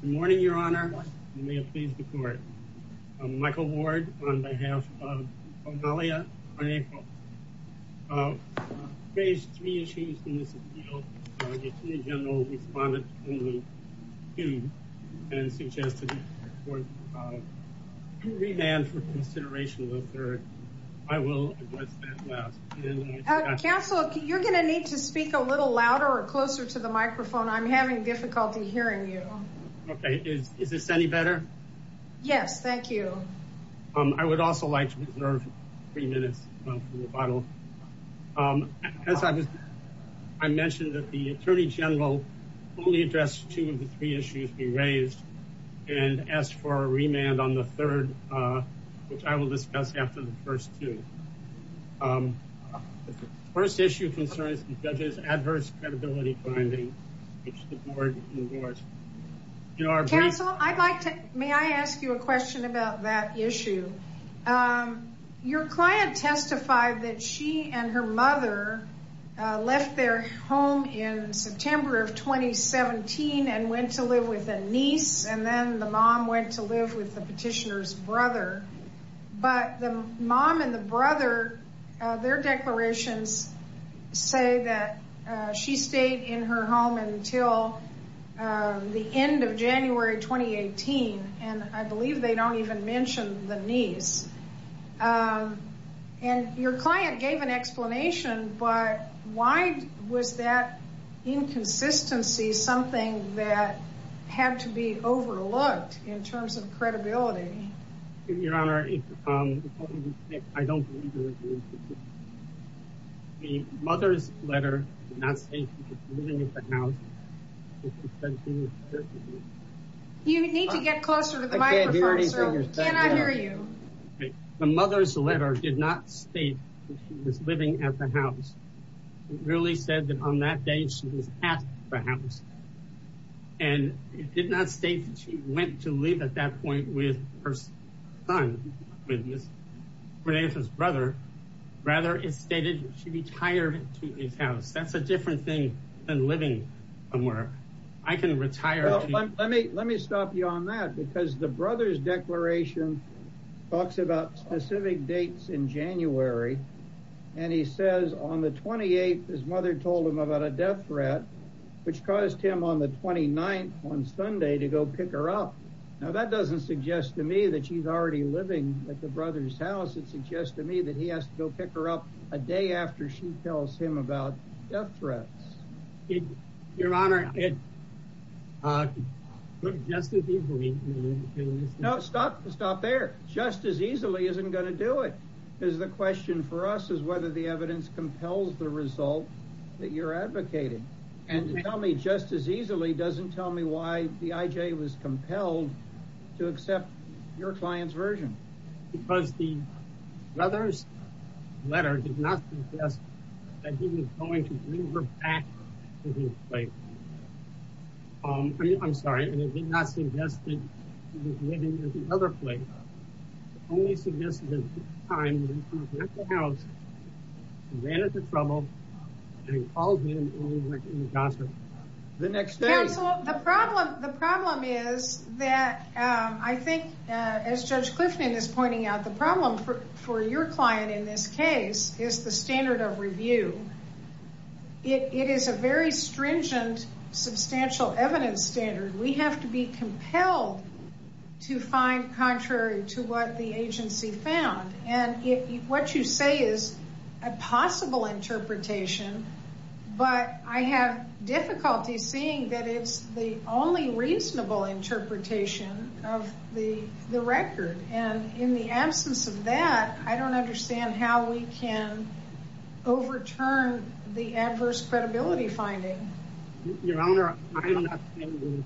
Good morning, Your Honor. You may appease the court. Michael Ward, on behalf of Cornelia Cornejo, raised three issues in this appeal. The Attorney General responded to them and suggested a remand for consideration of the third. I will address that last. Counsel, you're going to need to speak a little louder or closer to the microphone. I'm having difficulty hearing you. Is this any better? Yes, thank you. I would also like to reserve three minutes for rebuttal. I mentioned that the Attorney General only addressed two of the three issues we raised and asked for a remand on the third, which I will discuss after the first two. The first issue concerns the judge's adverse credibility finding, which the board endorsed. Counsel, may I ask you a question about that issue? Your client testified that she and her mother left their home in September of 2017 and went to live with a niece, and then the mom went to live with the petitioner's brother. But the mom and the brother, their declarations say that she stayed in her home until the end of January 2018, and I believe they don't even mention the niece. And your client gave an explanation, but why was that inconsistency something that had to be overlooked in terms of credibility? Your Honor, the mother's letter did not state that she was living at the house. It really said that on that day she was at the house. And it did not state that she went to live at that point with her son, with his brother. Rather, it stated she retired to his house. That's a different thing than living somewhere. I can retire. Let me stop you on that, because the brother's declaration talks about specific dates in January, and he says on the 28th his mother told him about a death threat, which caused him on the 29th on Sunday to go pick her up. Now, that doesn't suggest to me that she's already living at the brother's house. It suggests to me that he has to go pick her up a day after she tells him about death threats. Your Honor, just as easily isn't going to do it. Because the question for us is whether the evidence compels the result that you're advocating. And to tell me just as easily doesn't tell me why the IJ was compelled to accept your client's version. Because the brother's letter did not suggest that he was going to bring her back to his place. I'm sorry, it did not suggest that he was living at the other place. It only suggested that at this time he was at the house, he ran into trouble, and he called in and went into gossip the next day. The problem is that I think, as Judge Clifton is pointing out, the problem for your client in this case is the standard of review. It is a very stringent, substantial evidence standard. We have to be compelled to find contrary to what the agency found. And what you say is a possible interpretation, but I have difficulty seeing that it's the only reasonable interpretation of the record. And in the absence of that, I don't understand how we can overturn the adverse credibility finding. Your Honor, I don't understand.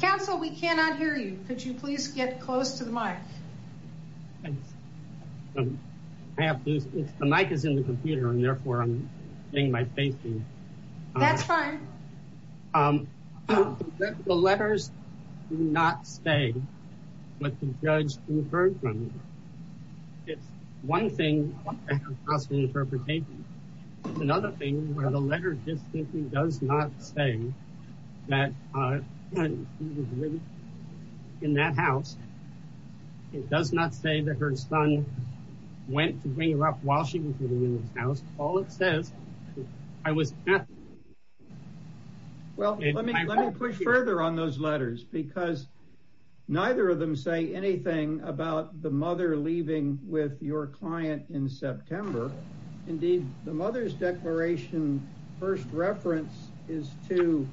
Counsel, we cannot hear you. Could you please get close to the mic? The mic is in the computer and therefore I'm seeing my face. That's fine. The letters do not say what the judge inferred from them. It's one thing to have a possible interpretation. It's another thing where the letter does not say that he was living in that house. It does not say that her son went to bring her up while she was living in his house. All it says is, I was at the house. Well, let me push further on those letters because neither of them say anything about the mother leaving with your client in September. Indeed, the mother's declaration, first reference is to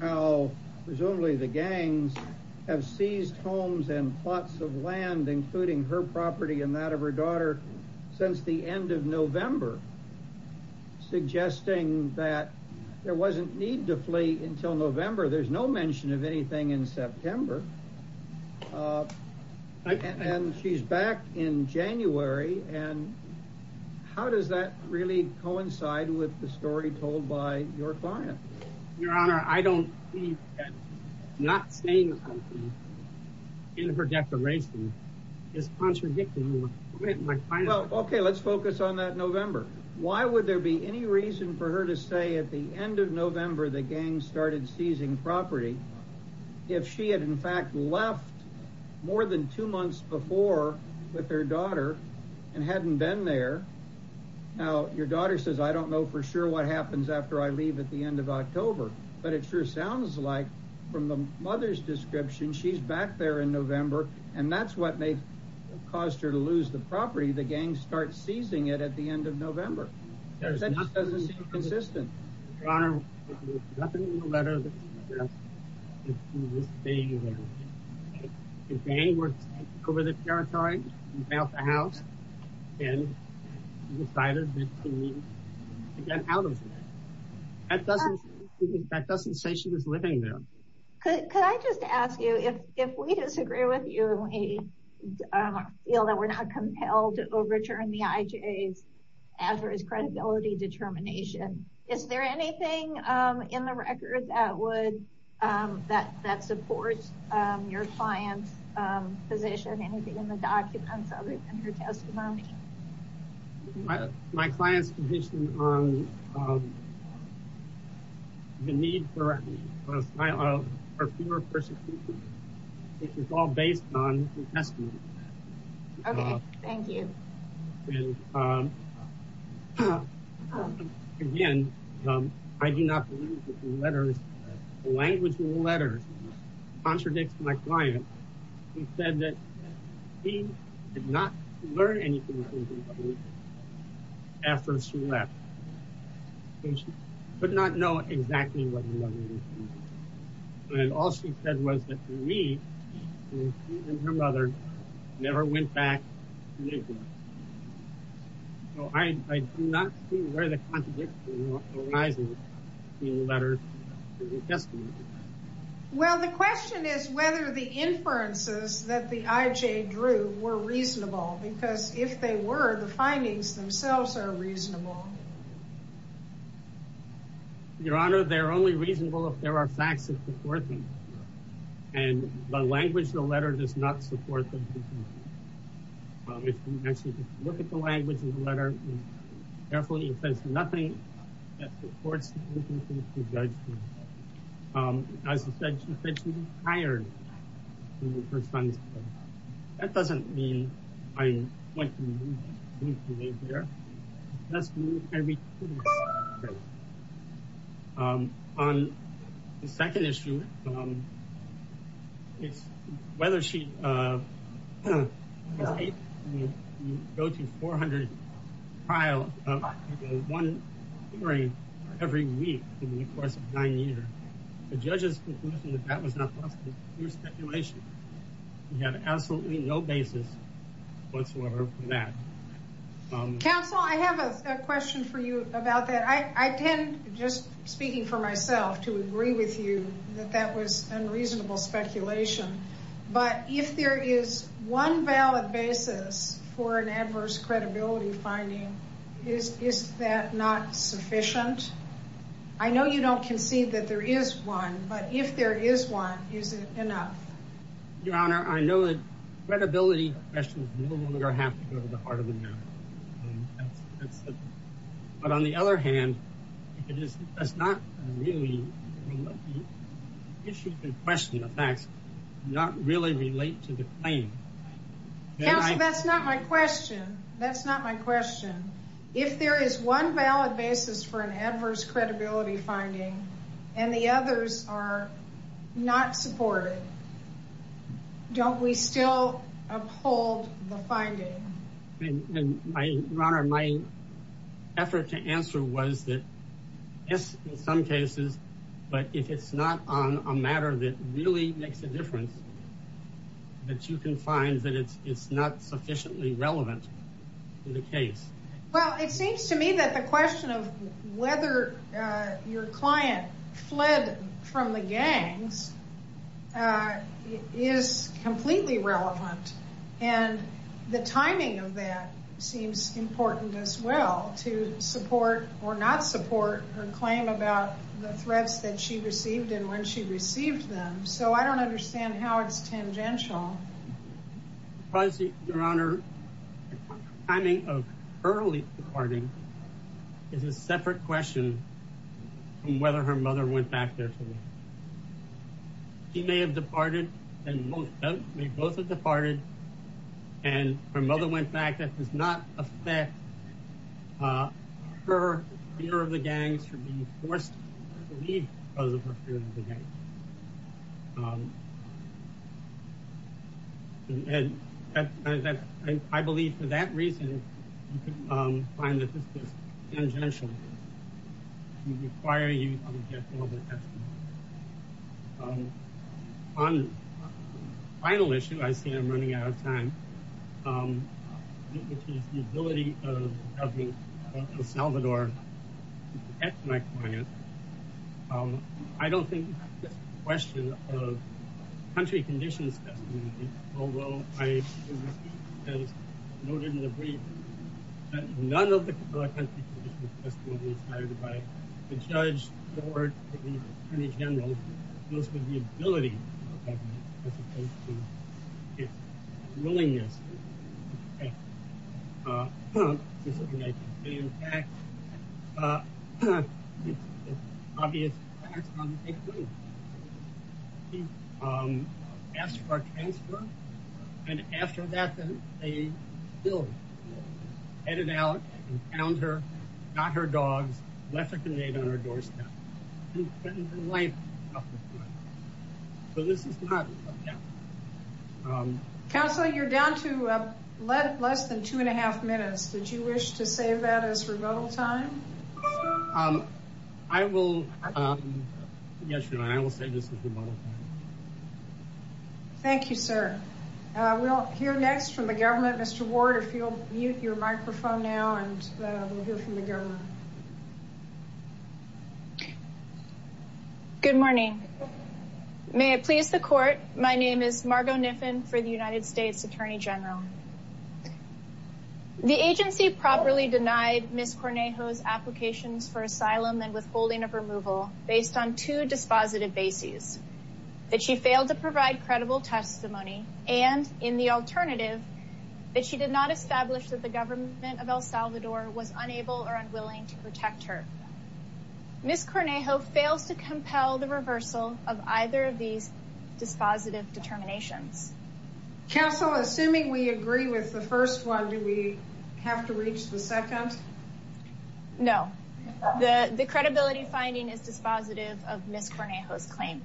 how presumably the gangs have seized homes and plots of land, including her property and that of her daughter, since the end of November, suggesting that there wasn't need to flee until November. There's no mention of anything in September. And she's back in January. And how does that really coincide with the story told by your client? Your Honor, I don't believe that not saying anything in her declaration is contradicting what my client said. But it sure sounds like from the mother's description, she's back there in November and that's what may have caused her to lose the property. The gangs start seizing it at the end of November. That just doesn't seem consistent. Your Honor, there's nothing in the letter that suggests that she was staying there. The gang went over the territory and bailed the house and decided that she needed to get out of there. That doesn't say she was living there. Could I just ask you, if we disagree with you and we feel that we're not compelled to overturn the IJA's adverse credibility determination, is there anything in the record that supports your client's position? Anything in the documents other than her testimony? My client's position on the need for a trial of her fear of persecution, which is all based on her testimony. Okay, thank you. Again, I do not believe that the language in the letters contradicts my client. She said that she did not learn anything from her mother after she left. She did not know exactly what her mother was doing. And all she said was that we, she and her mother, never went back to New York. So I do not see where the contradiction arises in the letters and the testimony. Well, the question is whether the inferences that the IJA drew were reasonable, because if they were, the findings themselves are reasonable. Your Honor, they're only reasonable if there are facts that support them. And the language in the letter does not support them. If you actually look at the language in the letter, carefully, it says nothing that supports her judgment. As I said, she said she was tired of her son's death. That doesn't mean I want to remove his behavior. On the second issue, it's whether she was able to go to 400 trials, one hearing every week in the course of nine years. The judge's conclusion that that was not possible is pure speculation. We have absolutely no basis whatsoever for that. Counsel, I have a question for you about that. I tend, just speaking for myself, to agree with you that that was unreasonable speculation. But if there is one valid basis for an adverse credibility finding, is that not sufficient? I know you don't concede that there is one, but if there is one, is it enough? Your Honor, I know that credibility questions no longer have to go to the heart of the matter. But on the other hand, if it does not really issue the question of facts, not really relate to the claim. Counsel, that's not my question. That's not my question. If there is one valid basis for an adverse credibility finding and the others are not supported, don't we still uphold the finding? Your Honor, my effort to answer was that yes, in some cases, but if it's not on a matter that really makes a difference, that you can find that it's not sufficiently relevant in the case. Well, it seems to me that the question of whether your client fled from the gangs is completely relevant. And the timing of that seems important as well to support or not support her claim about the threats that she received and when she received them. So I don't understand how it's tangential. Your Honor, the timing of early departing is a separate question from whether her mother went back there to leave. She may have departed and both have departed and her mother went back. That does not affect her fear of the gangs for being forced to leave because of her fear of the gangs. And I believe for that reason, you could find that this is tangential. It would require you to get more of a testimony. On the final issue, I see I'm running out of time, which is the ability of the government of El Salvador to protect my client. I don't think this is a question of country conditions, although I noted in the brief that none of the country conditions were inspired by the judge or the Attorney General. It deals with the ability of the government as opposed to its willingness to protect me. In fact, the obvious facts are that they couldn't. He asked for a transfer. And after that, they headed out and found her, got her dogs, left a grenade on her doorstep. So this is not. Counselor, you're down to less than two and a half minutes. Did you wish to save that as rebuttal time? I will. Thank you, sir. We'll hear next from the government. Mr. Ward, if you'll mute your microphone now and we'll hear from the government. Good morning. May it please the court. My name is Margo Niffin for the United States Attorney General. The agency properly denied Ms. Cornejo's applications for asylum and withholding of removal based on two dispositive bases. That she failed to provide credible testimony and, in the alternative, that she did not establish that the government of El Salvador was unable or unwilling to protect her. Ms. Cornejo fails to compel the reversal of either of these dispositive determinations. Counsel, assuming we agree with the first one, do we have to reach the second? No. The credibility finding is dispositive of Ms. Cornejo's claim.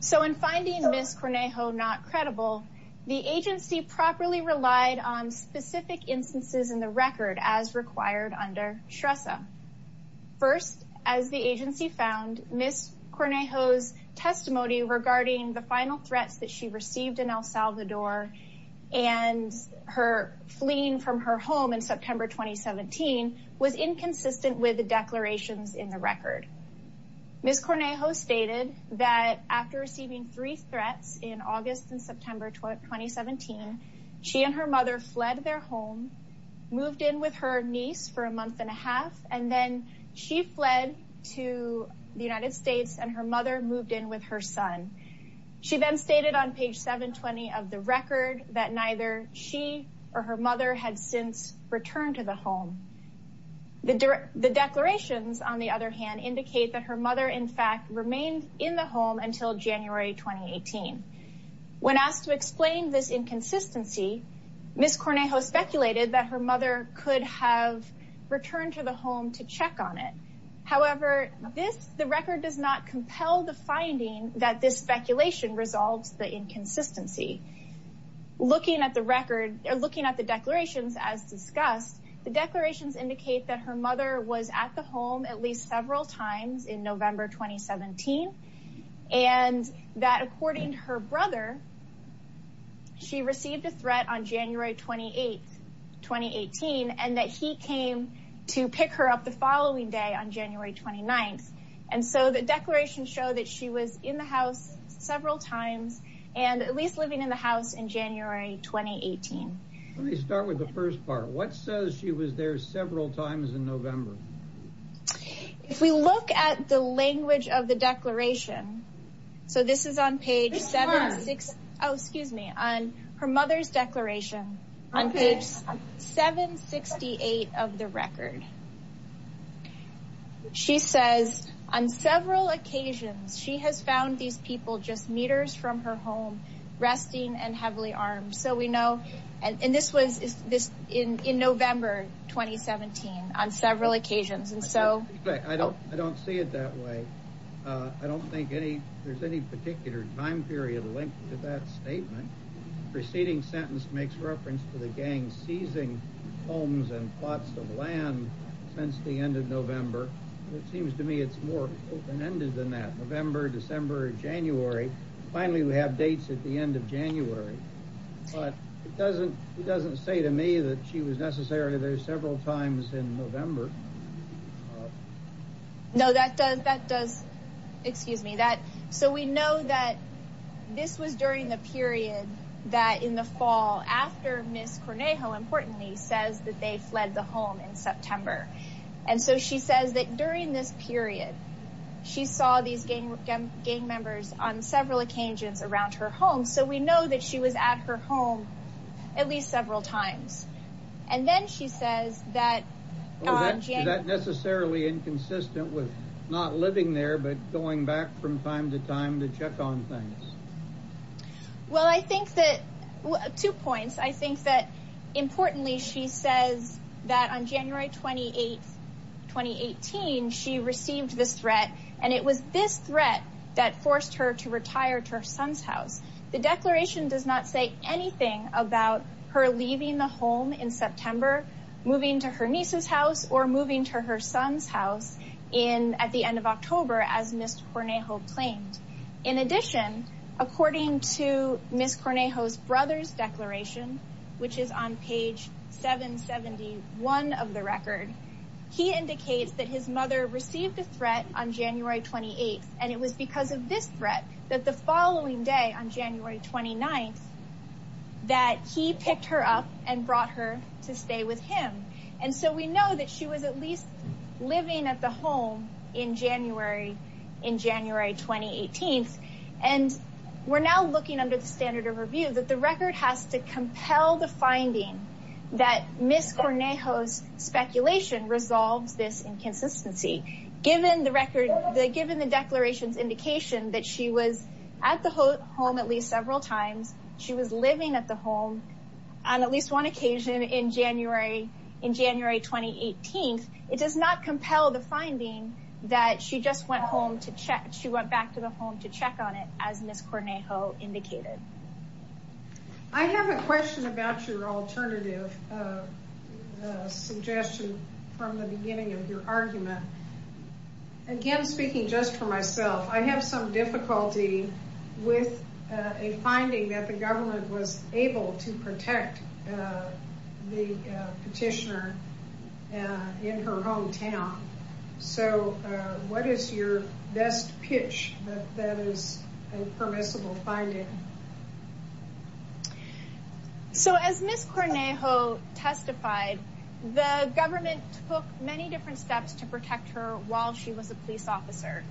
So in finding Ms. Cornejo not credible, the agency properly relied on specific instances in the record as required under STRESA. First, as the agency found, Ms. Cornejo's testimony regarding the final threats that she received in El Salvador and her fleeing from her home in September 2017 was inconsistent with the declarations in the record. Ms. Cornejo stated that after receiving three threats in August and September 2017, she and her mother fled their home, moved in with her niece for a month and a half, and then she fled to the United States and her mother moved in with her son. She then stated on page 720 of the record that neither she or her mother had since returned to the home. The declarations, on the other hand, indicate that her mother, in fact, remained in the home until January 2018. When asked to explain this inconsistency, Ms. Cornejo speculated that her mother could have returned to the home to check on it. However, the record does not compel the finding that this speculation resolves the inconsistency. Looking at the declarations as discussed, the declarations indicate that her mother was at the home at least several times in November 2017 and that, according to her brother, she received a threat on January 28, 2018, and that he came to pick her up the following day on January 29. And so the declarations show that she was in the house several times and at least living in the house in January 2018. Let me start with the first part. What says she was there several times in November? If we look at the language of the declaration, so this is on page 76, oh, excuse me, on her mother's declaration on page 768 of the record. She says on several occasions she has found these people just meters from her home resting and heavily armed. So we know and this was this in November 2017 on several occasions. And so I don't I don't see it that way. I don't think any there's any particular time period linked to that statement. Proceeding sentence makes reference to the gang seizing homes and plots of land since the end of November. It seems to me it's more open ended than that. November, December, January. Finally, we have dates at the end of January. But it doesn't it doesn't say to me that she was necessarily there several times in November. No, that does that does excuse me that. So we know that this was during the period that in the fall after Miss Cornejo, importantly, says that they fled the home in September. And so she says that during this period, she saw these gang gang members on several occasions around her home. So we know that she was at her home at least several times. And then she says that that necessarily inconsistent with not living there, but going back from time to time to check on things. Well, I think that two points, I think that importantly, she says that on January 28th, 2018, she received this threat. And it was this threat that forced her to retire to her son's house. The declaration does not say anything about her leaving the home in September, moving to her niece's house or moving to her son's house in at the end of October, as Miss Cornejo claimed. In addition, according to Miss Cornejo's brother's declaration, which is on page 771 of the record, he indicates that his mother received a threat on January 28th. And it was because of this threat that the following day, on January 29th, that he picked her up and brought her to stay with him. And so we know that she was at least living at the home in January, in January 2018. And we're now looking under the standard of review that the record has to compel the finding that Miss Cornejo's speculation resolves this inconsistency. Given the record, given the declaration's indication that she was at the home at least several times, she was living at the home on at least one occasion in January, in January 2018. It does not compel the finding that she just went home to check, she went back to the home to check on it, as Miss Cornejo indicated. I have a question about your alternative suggestion from the beginning of your argument. Again, speaking just for myself, I have some difficulty with a finding that the government was able to protect the petitioner in her hometown. So what is your best pitch that is a permissible finding? So as Miss Cornejo testified, the government took many different steps to protect her while she was a police officer.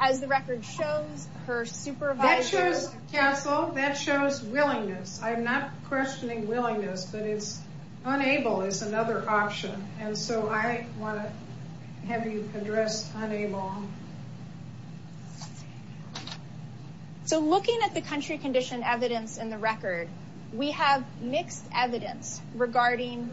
As the record shows, her supervisor... That shows counsel, that shows willingness. I'm not questioning willingness, but it's unable is another option. And so I want to have you address unable. So looking at the country condition evidence in the record, we have mixed evidence regarding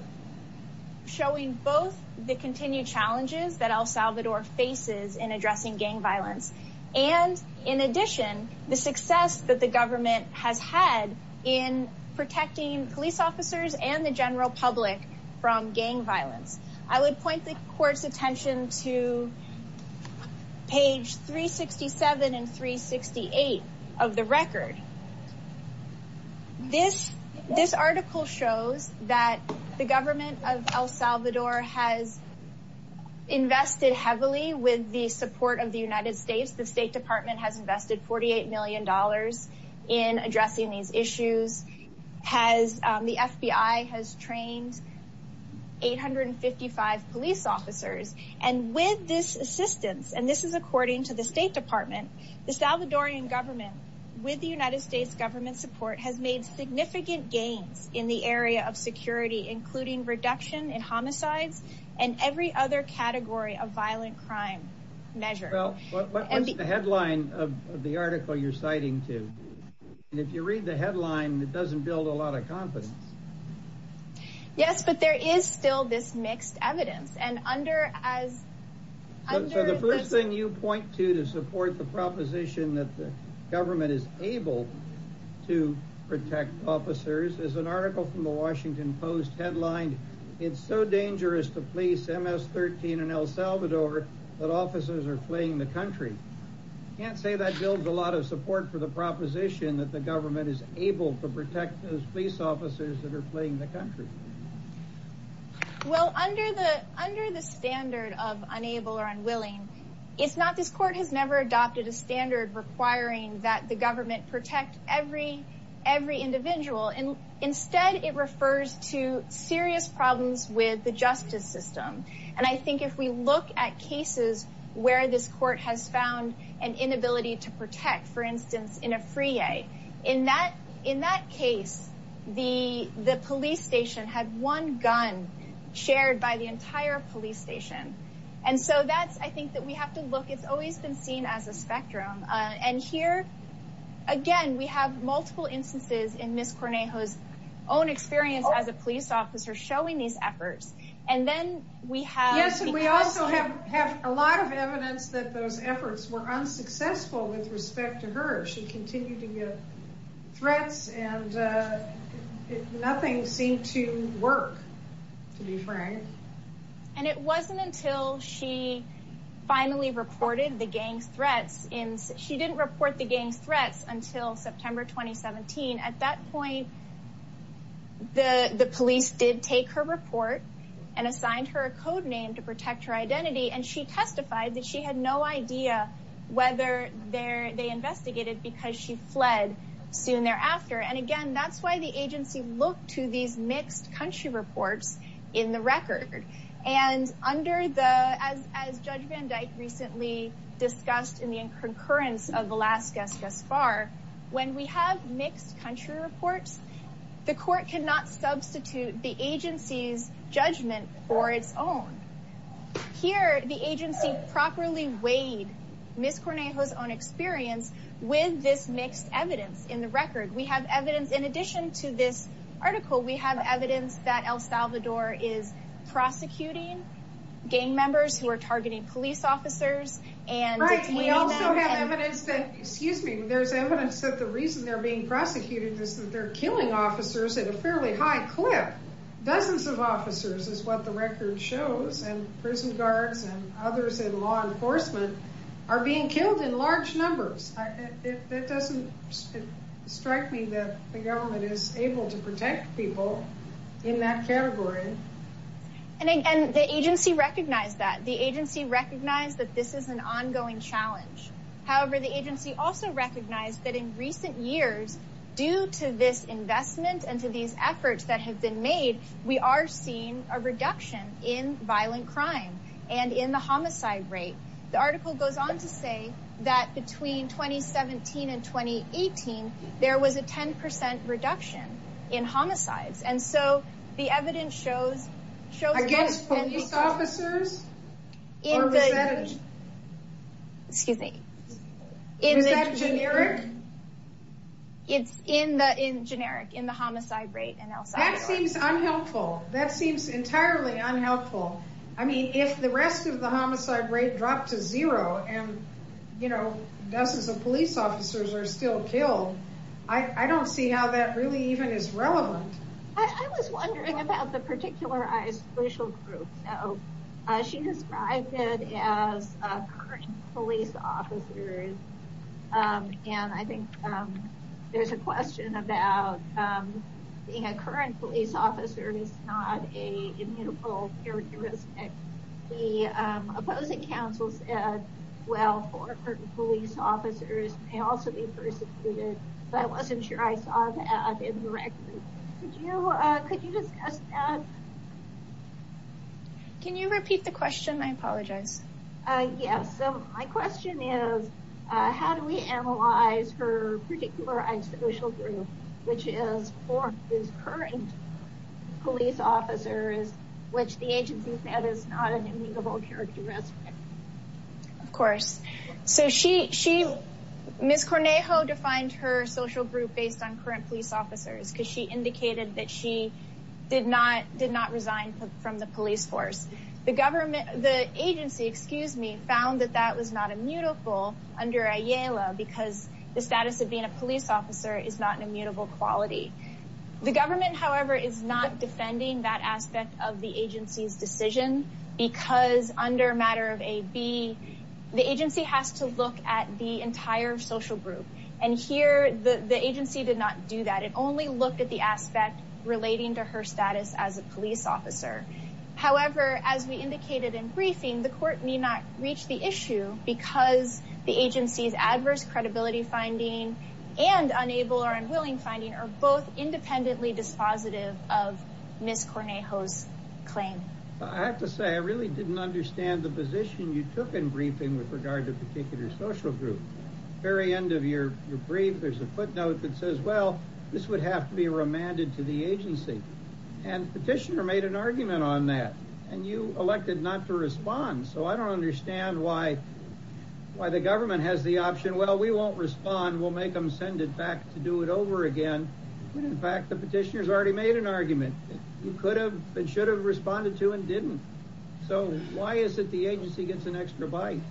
showing both the continued challenges that El Salvador faces in addressing gang violence, and in addition, the success that the government has had in protecting police officers and the general public from gang violence. I would point the court's attention to page 367 and 368 of the record. This article shows that the government of El Salvador has invested heavily with the support of the United States. The State Department has invested $48 million in addressing these issues. The FBI has trained 855 police officers, and with this assistance, and this is according to the State Department, the Salvadorian government, with the United States government support, has made significant gains in the area of security, including reduction in homicides and every other category of violent crime measure. Well, what's the headline of the article you're citing to? And if you read the headline, it doesn't build a lot of confidence. Yes, but there is still this mixed evidence, and under as... The headline you point to to support the proposition that the government is able to protect officers is an article from the Washington Post headlined, It's so dangerous to police MS-13 in El Salvador that officers are fleeing the country. I can't say that builds a lot of support for the proposition that the government is able to protect those police officers that are fleeing the country. Well, under the standard of unable or unwilling, it's not. This court has never adopted a standard requiring that the government protect every individual. Instead, it refers to serious problems with the justice system, and I think if we look at cases where this court has found an inability to protect, for instance, in a freeway, in that case, the police station had one gun shared by the entire police station. And so that's, I think, that we have to look. It's always been seen as a spectrum. And here, again, we have multiple instances in Ms. Cornejo's own experience as a police officer showing these efforts. Yes, and we also have a lot of evidence that those efforts were unsuccessful with respect to her. She continued to get threats, and nothing seemed to work, to be frank. And it wasn't until she finally reported the gang's threats. She didn't report the gang's threats until September 2017. At that point, the police did take her report and assigned her a code name to protect her identity, and she testified that she had no idea whether they investigated because she fled soon thereafter. And again, that's why the agency looked to these mixed country reports in the record. And as Judge Van Dyke recently discussed in the concurrence of the last guest thus far, when we have mixed country reports, the court cannot substitute the agency's judgment for its own. Here, the agency properly weighed Ms. Cornejo's own experience with this mixed evidence in the record. We have evidence, in addition to this article, we have evidence that El Salvador is prosecuting gang members who are targeting police officers. Right, we also have evidence that, excuse me, there's evidence that the reason they're being prosecuted is that they're killing officers at a fairly high clip. Dozens of officers is what the record shows, and prison guards and others in law enforcement are being killed in large numbers. That doesn't strike me that the government is able to protect people in that category. And again, the agency recognized that. The agency recognized that this is an ongoing challenge. However, the agency also recognized that in recent years, due to this investment and to these efforts that have been made, we are seeing a reduction in violent crime and in the homicide rate. The article goes on to say that between 2017 and 2018, there was a 10% reduction in homicides. And so the evidence shows, shows police officers. Excuse me. Is that generic? It's in the, in generic, in the homicide rate in El Salvador. That seems unhelpful. That seems entirely unhelpful. I mean, if the rest of the homicide rate dropped to zero and, you know, dozens of police officers are still killed. I don't see how that really even is relevant. I was wondering about the particularized racial group. She described it as current police officers. And I think there's a question about being a current police officer is not a immutable characteristic. The opposing counsel said, well, former police officers may also be persecuted. But I wasn't sure I saw that directly. Could you, could you discuss that? Can you repeat the question? I apologize. Yes. So my question is, how do we analyze her particularized racial group, which is for his current police officers, which the agency said is not an immutable characteristic? Of course. So she, she, Ms. Cornejo defined her social group based on current police officers because she indicated that she did not, did not resign from the police force. The government, the agency, excuse me, found that that was not immutable under Ayala because the status of being a police officer is not an immutable quality. The government, however, is not defending that aspect of the agency's decision because under a matter of a B, the agency has to look at the entire social group. And here the agency did not do that. It only looked at the aspect relating to her status as a police officer. However, as we indicated in briefing, the court need not reach the issue because the agency's adverse credibility finding and unable or unwilling finding are both independently dispositive of Ms. Cornejo's claim. I have to say, I really didn't understand the position you took in briefing with regard to a particular social group. At the very end of your brief, there's a footnote that says, well, this would have to be remanded to the agency. And the petitioner made an argument on that. And you elected not to respond. So I don't understand why, why the government has the option, well, we won't respond, we'll make them send it back to do it over again. When in fact, the petitioner's already made an argument. You could have and should have responded to and didn't. So why is it the agency gets an extra bite?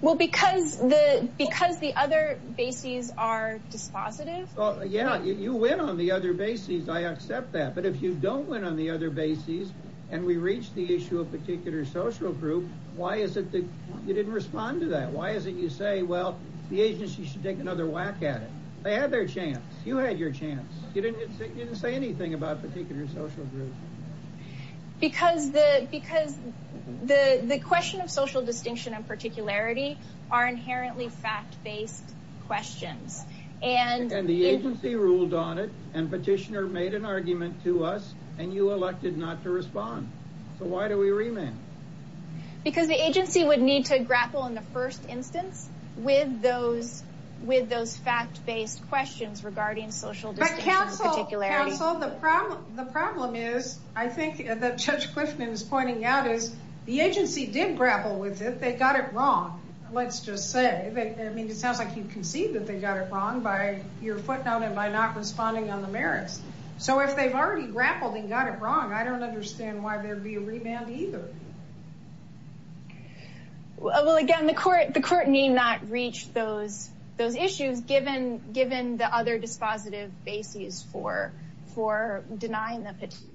Well, because the other bases are dispositive. Yeah, you win on the other bases. I accept that. But if you don't win on the other bases and we reach the issue of particular social group, why is it that you didn't respond to that? Why is it you say, well, the agency should take another whack at it? They had their chance. You had your chance. You didn't say anything about particular social group. Because the question of social distinction and particularity are inherently fact-based questions. And the agency ruled on it. And petitioner made an argument to us. And you elected not to respond. So why do we remand? Because the agency would need to grapple in the first instance with those fact-based questions regarding social distinction. But counsel, the problem is, I think that Judge Clifton is pointing out, is the agency did grapple with it. They got it wrong, let's just say. I mean, it sounds like you concede that they got it wrong by your footnote and by not responding on the merits. So if they've already grappled and got it wrong, I don't understand why there would be a remand either. Well, again, the court need not reach those issues, given the other dispositive bases for denying the petition.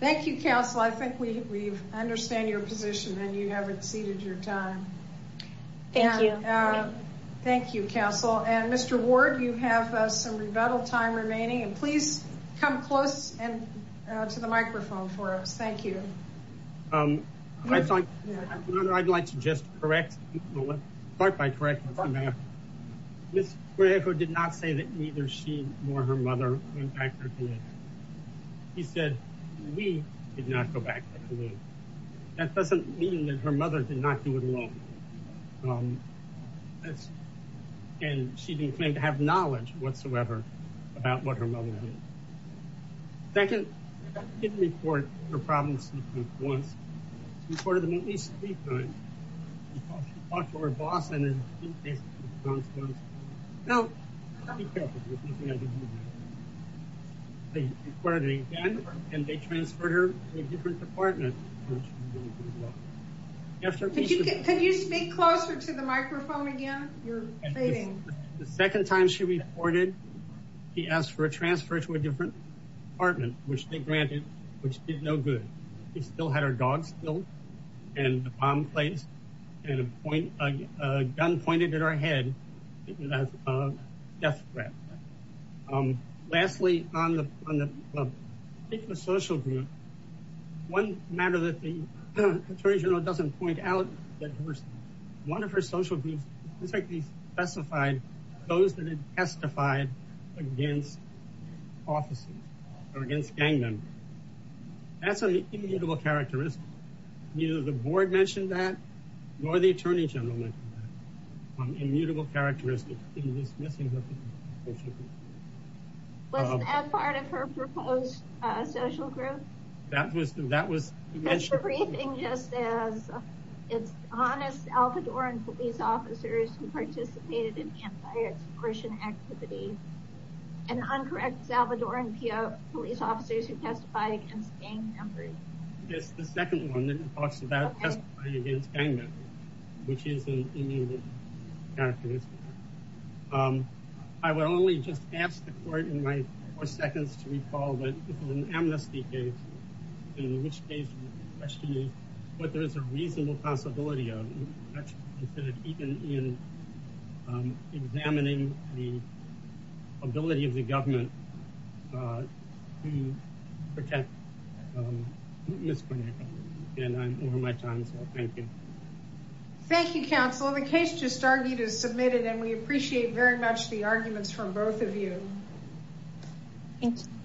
Thank you, counsel. I think we understand your position. And you have exceeded your time. Thank you. Thank you, counsel. And Mr. Ward, you have some rebuttal time remaining. And please come close to the microphone for us. Thank you. I'd like to just correct, start by correcting the math. Ms. Branko did not say that neither she nor her mother went back to the community. She said we did not go back to the community. That doesn't mean that her mother did not do it alone. And she didn't claim to have knowledge whatsoever about what her mother did. Second, I didn't report her problems once. I reported them at least three times. She talked to her boss and his team based in Wisconsin. Now, be careful. There's nothing I can do about it. They reported it again, and they transferred her to a different department. Could you speak closer to the microphone again? You're fading. The second time she reported, she asked for a transfer to a different department, which they granted, which did no good. We still had our dogs killed and a bomb placed and a gun pointed at our head as a death threat. Lastly, on the particular social group, one matter that the attorney general doesn't point out, one of her social groups specifically specified those that had testified against officers or against gang members. That's an immutable characteristic. Neither the board mentioned that nor the attorney general mentioned that. An immutable characteristic. Was that part of her proposed social group? That was mentioned. The briefing just says it's honest Alvadoran police officers who participated in anti-exploitation activities. And uncorrect is Alvadoran police officers who testify against gang members. It's the second one that talks about testifying against gang members, which is an immutable characteristic. I would only just ask the court in my four seconds to recall that this was an amnesty case, in which case the question is what there is a reasonable possibility of, even in examining the ability of the government to protect Ms. Cornetto. And I'm over my time, so thank you. Thank you, counsel. The case just argued is submitted and we appreciate very much the arguments from both of you. Thank you.